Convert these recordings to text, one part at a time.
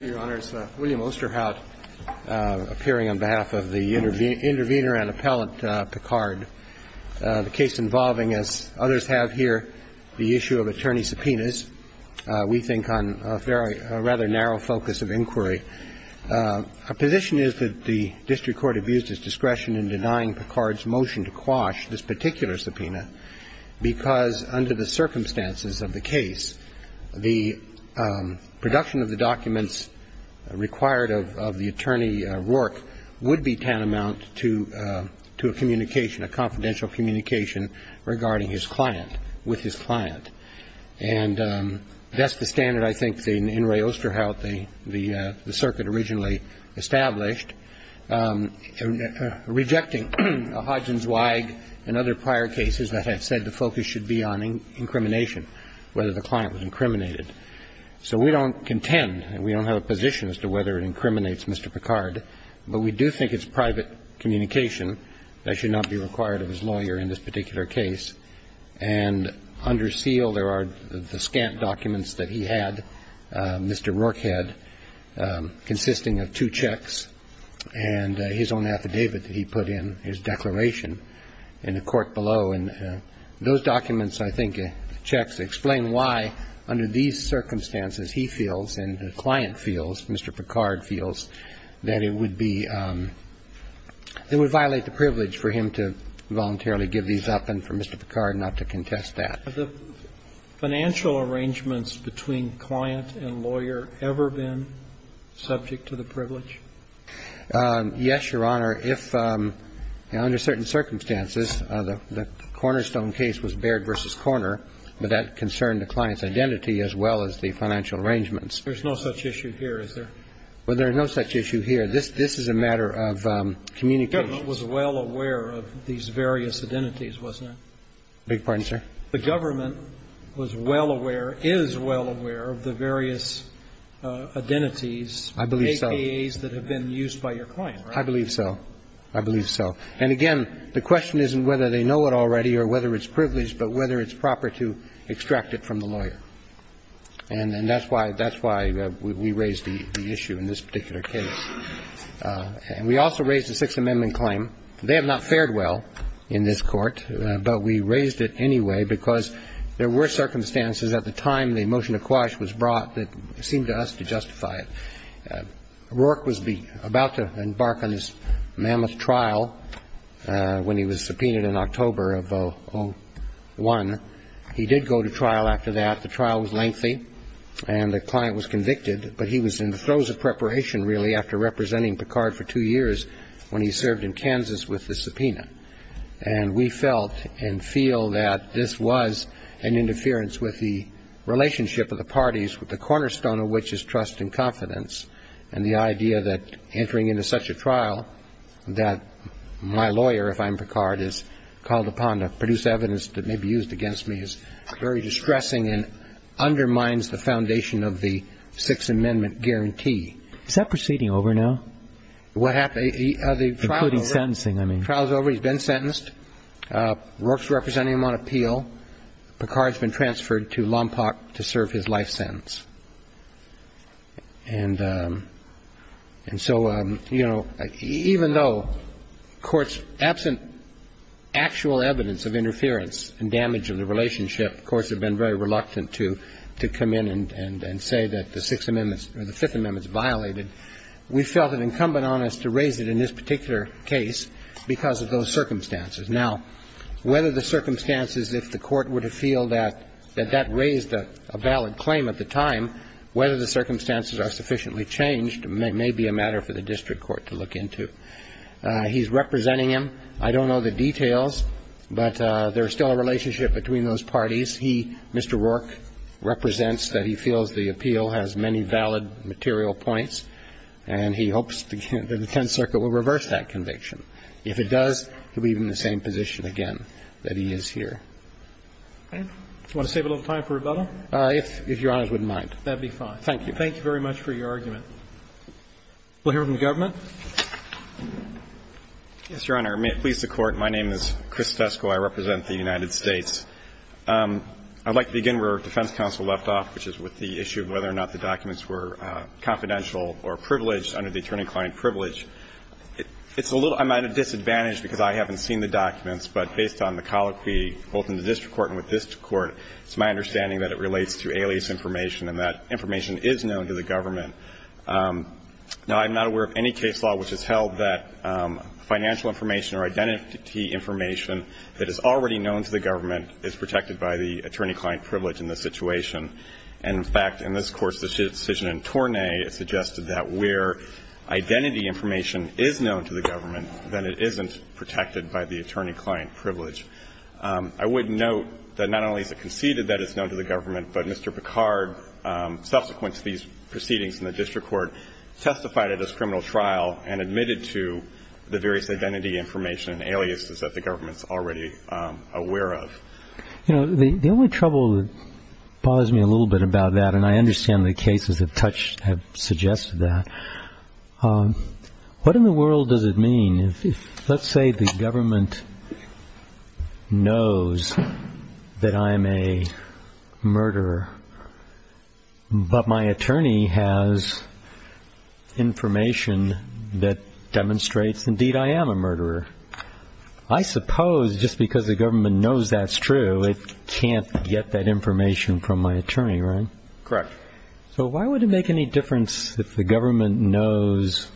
Your Honor, it's William Osterhout, appearing on behalf of the intervener and appellant, Picard. The case involving, as others have here, the issue of attorney subpoenas, we think on a rather narrow focus of inquiry. Our position is that the district court abused its discretion in denying Picard's motion to quash this particular subpoena, because under the circumstances of the case, the production of the documents required of the attorney, Rourke, would be tantamount to a communication, a confidential communication, regarding his client, with his client. And that's the standard, I think, in Enri Osterhout, the circuit originally established, rejecting Hodgins-Weig and other prior cases that have said the focus should be on incrimination, whether the client was incriminated. So we don't contend, and we don't have a position as to whether it incriminates Mr. Picard, but we do think it's private communication that should not be required of his lawyer in this particular case. And under seal, there are the scant documents that he had, Mr. Rourke had, consisting of two checks and his own affidavit that he put in, his declaration, in the court documents, I think, checks, explain why, under these circumstances, he feels and the client feels, Mr. Picard feels, that it would be – it would violate the privilege for him to voluntarily give these up and for Mr. Picard not to contest that. The financial arrangements between client and lawyer ever been subject to the privilege? Yes, Your Honor. Under certain circumstances, the Cornerstone case was Baird v. Corner, but that concerned the client's identity as well as the financial arrangements. There's no such issue here, is there? Well, there's no such issue here. This is a matter of communication. The government was well aware of these various identities, wasn't it? Beg your pardon, sir? The government was well aware, is well aware of the various identities, AKAs, that have been used by your client, right? I believe so. I believe so. And again, the question isn't whether they know it already or whether it's privileged, but whether it's proper to extract it from the lawyer. And that's why – that's why we raised the issue in this particular case. And we also raised the Sixth Amendment claim. They have not fared well in this Court, but we raised it anyway because there were circumstances at the time the motion to quash was brought that seemed to us to justify it. Rourke was about to embark on his mammoth trial when he was subpoenaed in October of 2001. He did go to trial after that. The trial was lengthy, and the client was convicted. But he was in the throes of preparation, really, after representing Picard for two years when he served in Kansas with the subpoena. And we felt and feel that this was an interference with the relationship of the parties, with the cornerstone of which is trust and confidence, and the idea that entering into such a trial that my lawyer, if I'm Picard, is called upon to produce evidence that may be used against me is very distressing and undermines the foundation of the Sixth Amendment guarantee. Is that proceeding over now, including sentencing, I mean? The trial's over. He's been sentenced. Rourke's representing him on appeal. Picard's been transferred to Lompoc to serve his life sentence. And so, you know, even though courts, absent actual evidence of interference and damage of the relationship, courts have been very reluctant to come in and say that the Sixth Amendment or the Fifth Amendment's violated, we felt it incumbent on us to raise it in this particular case because of those circumstances. Now, whether the circumstances, if the Court would have felt that that raised a valid claim at the time, whether the circumstances are sufficiently changed may be a matter for the district court to look into. He's representing him. I don't know the details, but there's still a relationship between those parties. He, Mr. Rourke, represents that he feels the appeal has many valid material points, and he hopes that the Tenth Circuit will reverse that conviction. If it does, he'll be in the same position again that he is here. Do you want to save a little time for rebuttal? If Your Honor's wouldn't mind. That'd be fine. Thank you. Thank you very much for your argument. We'll hear from the government. Yes, Your Honor. May it please the Court. My name is Chris Tesco. I represent the United States. I'd like to begin where our defense counsel left off, which is with the issue of whether or not the documents were confidential or privileged under the attorney-client privilege. It's a little – I'm at a disadvantage because I haven't seen the documents, but based on the colloquy both in the district court and with this court, it's my understanding that it relates to alias information and that information is known to the government. Now, I'm not aware of any case law which has held that financial information or identity information that is already known to the government is protected by the attorney-client privilege in this situation. And, in fact, in this court's decision in Tornay, it suggested that where identity information is known to the government, then it isn't protected by the attorney-client privilege. I would note that not only is it conceded that it's known to the government, but Mr. Picard, subsequent to these proceedings in the district court, testified at this criminal trial and admitted to the various identity information and aliases that the government's already aware of. You know, the only trouble that bothers me a little bit about that, and I understand the cases have suggested that, what in the world does it mean if, let's say, the government knows that I am a murderer, but my attorney has information that demonstrates, indeed, I am a murderer, I suppose just because the government knows that's true, it can't get that information from my attorney, right? Correct. So why would it make any difference if the government knows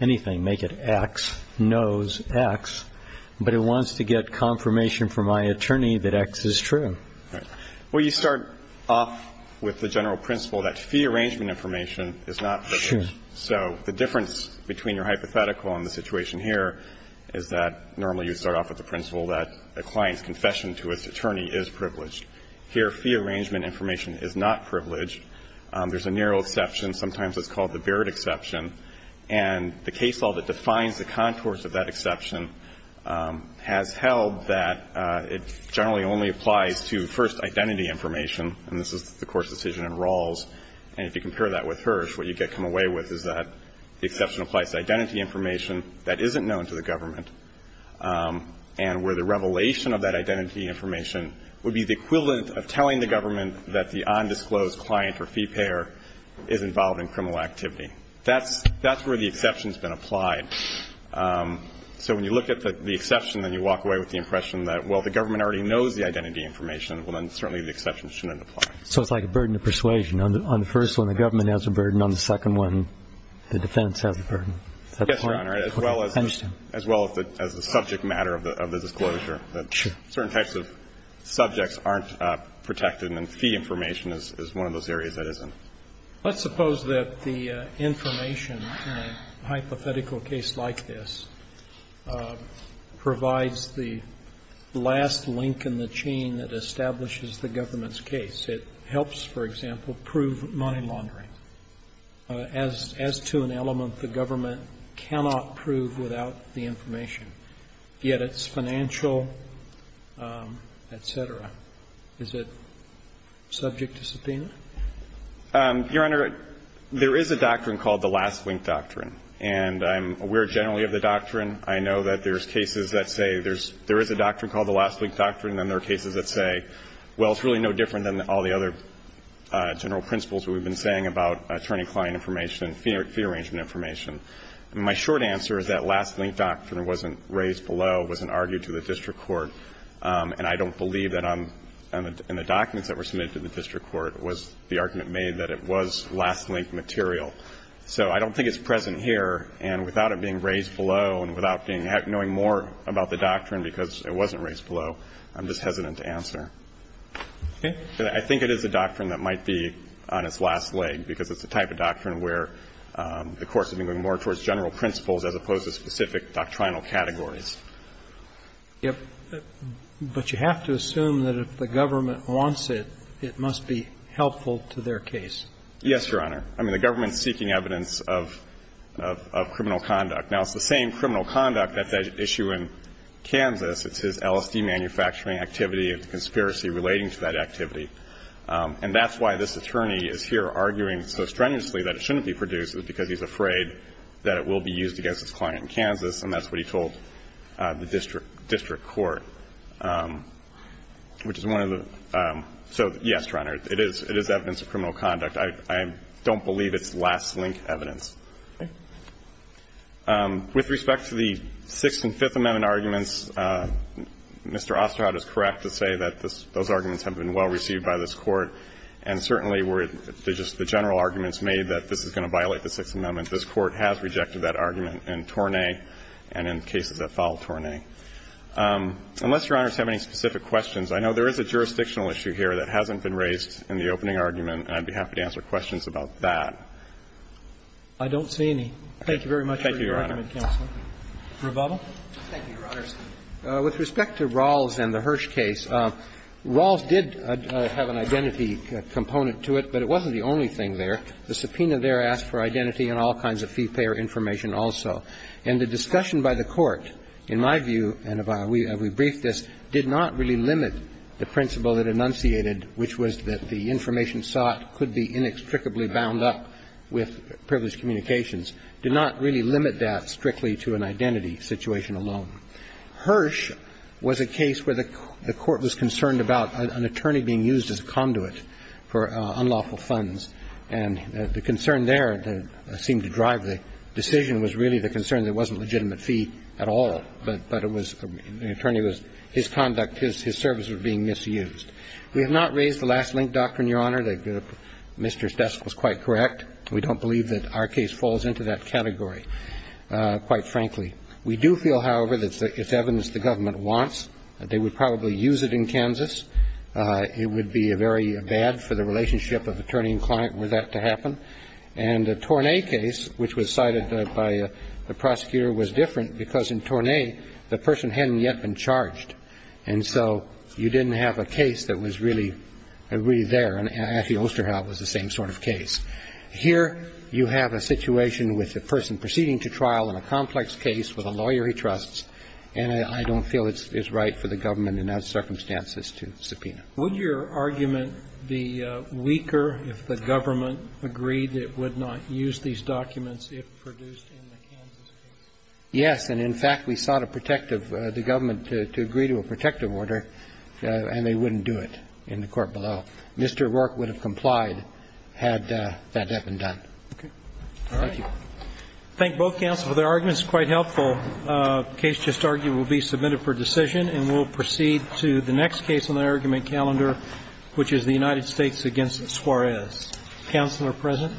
anything, make it X, knows X, but it wants to get confirmation from my attorney that X is true? Well, you start off with the general principle that fee arrangement information is not privileged. Sure. So the difference between your hypothetical and the situation here is that normally you start off with the principle that a client's confession to its attorney is privileged. Here, fee arrangement information is not privileged. There's a narrow exception. Sometimes it's called the Barrett exception. And the case law that defines the contours of that exception has held that it generally only applies to, first, identity information, and this is the Course decision in Rawls. And if you compare that with Hirsch, what you get come away with is that the exception applies to identity information that isn't known to the government and where the revelation of that identity information would be the equivalent of telling the government that the undisclosed client or fee payer is involved in criminal activity. That's where the exception's been applied. So when you look at the exception, then you walk away with the impression that, well, the government already knows the identity information, well, then certainly the exception shouldn't apply. So it's like a burden of persuasion. On the first one, the government has a burden. On the second one, the defense has a burden. Is that the point? Yes, Your Honor, as well as the subject matter of the disclosure. Certain types of subjects aren't protected, and fee information is one of those areas that isn't. Let's suppose that the information in a hypothetical case like this provides the last link in the chain that establishes the government's case. It helps, for example, prove money laundering. As to an element, the government cannot prove without the information, yet its financial and legal, et cetera. Is it subject to subpoena? Your Honor, there is a doctrine called the last link doctrine, and I'm aware generally of the doctrine. I know that there's cases that say there is a doctrine called the last link doctrine, and there are cases that say, well, it's really no different than all the other general principles that we've been saying about attorney-client information, fee arrangement information. And my short answer is that last link doctrine wasn't raised below, wasn't argued to the district court, and I don't believe that in the documents that were submitted to the district court was the argument made that it was last link material. So I don't think it's present here, and without it being raised below and without knowing more about the doctrine because it wasn't raised below, I'm just hesitant to answer. Okay? I think it is a doctrine that might be on its last leg because it's the type of doctrine where the Court's been going more towards general principles as opposed to specific doctrinal categories. But you have to assume that if the government wants it, it must be helpful to their case. Yes, Your Honor. I mean, the government's seeking evidence of criminal conduct. Now, it's the same criminal conduct at that issue in Kansas. It's his LSD manufacturing activity and the conspiracy relating to that activity. And that's why this attorney is here arguing so strenuously that it shouldn't be produced is because he's afraid that it will be used against his client in Kansas, and that's what he told the district court, which is one of the – so, yes, Your Honor, it is evidence of criminal conduct. I don't believe it's last link evidence. With respect to the Sixth and Fifth Amendment arguments, Mr. Osterhout is correct to say that those arguments have been well received by this Court, and certainly were just the general arguments made that this is going to violate the Sixth Amendment. This Court has rejected that argument in Tornay and in cases that follow Tornay. Unless Your Honor has any specific questions, I know there is a jurisdictional issue here that hasn't been raised in the opening argument, and I'd be happy to answer questions about that. I don't see any. Thank you very much for your argument, counsel. Thank you, Your Honor. Thank you, Your Honors. With respect to Rawls and the Hirsch case, Rawls did have an identity component to it, but it wasn't the only thing there. In fact, the subpoena there asked for identity and all kinds of fee-payer information also. And the discussion by the Court, in my view, and we briefed this, did not really limit the principle it enunciated, which was that the information sought could be inextricably bound up with privileged communications, did not really limit that strictly to an identity situation alone. Hirsch was a case where the Court was concerned about an attorney being used as a conduit for unlawful funds, and the concern there that seemed to drive the decision was really the concern that it wasn't a legitimate fee at all, but it was the attorney was his conduct, his service was being misused. We have not raised the last link doctrine, Your Honor, that Mr. Stesk was quite correct. We don't believe that our case falls into that category, quite frankly. We do feel, however, that it's evidence the government wants. They would probably use it in Kansas. It would be very bad for the relationship of attorney and client were that to happen. And the Tornay case, which was cited by the prosecutor, was different because in Tornay, the person hadn't yet been charged, and so you didn't have a case that was really there, and actually Osterhout was the same sort of case. Here, you have a situation with a person proceeding to trial in a complex case with a lawyer he trusts, and I don't feel it's right for the government in those circumstances to subpoena. Roberts. Would your argument be weaker if the government agreed it would not use these documents if produced in the Kansas case? Yes, and, in fact, we sought a protective the government to agree to a protective order, and they wouldn't do it in the court below. Mr. Rourke would have complied had that not been done. Okay. Thank you. Thank both counsels for their arguments, quite helpful. The case just argued will be submitted for decision, and we'll proceed to the next case on the argument calendar, which is the United States against Suarez. Counsel are present.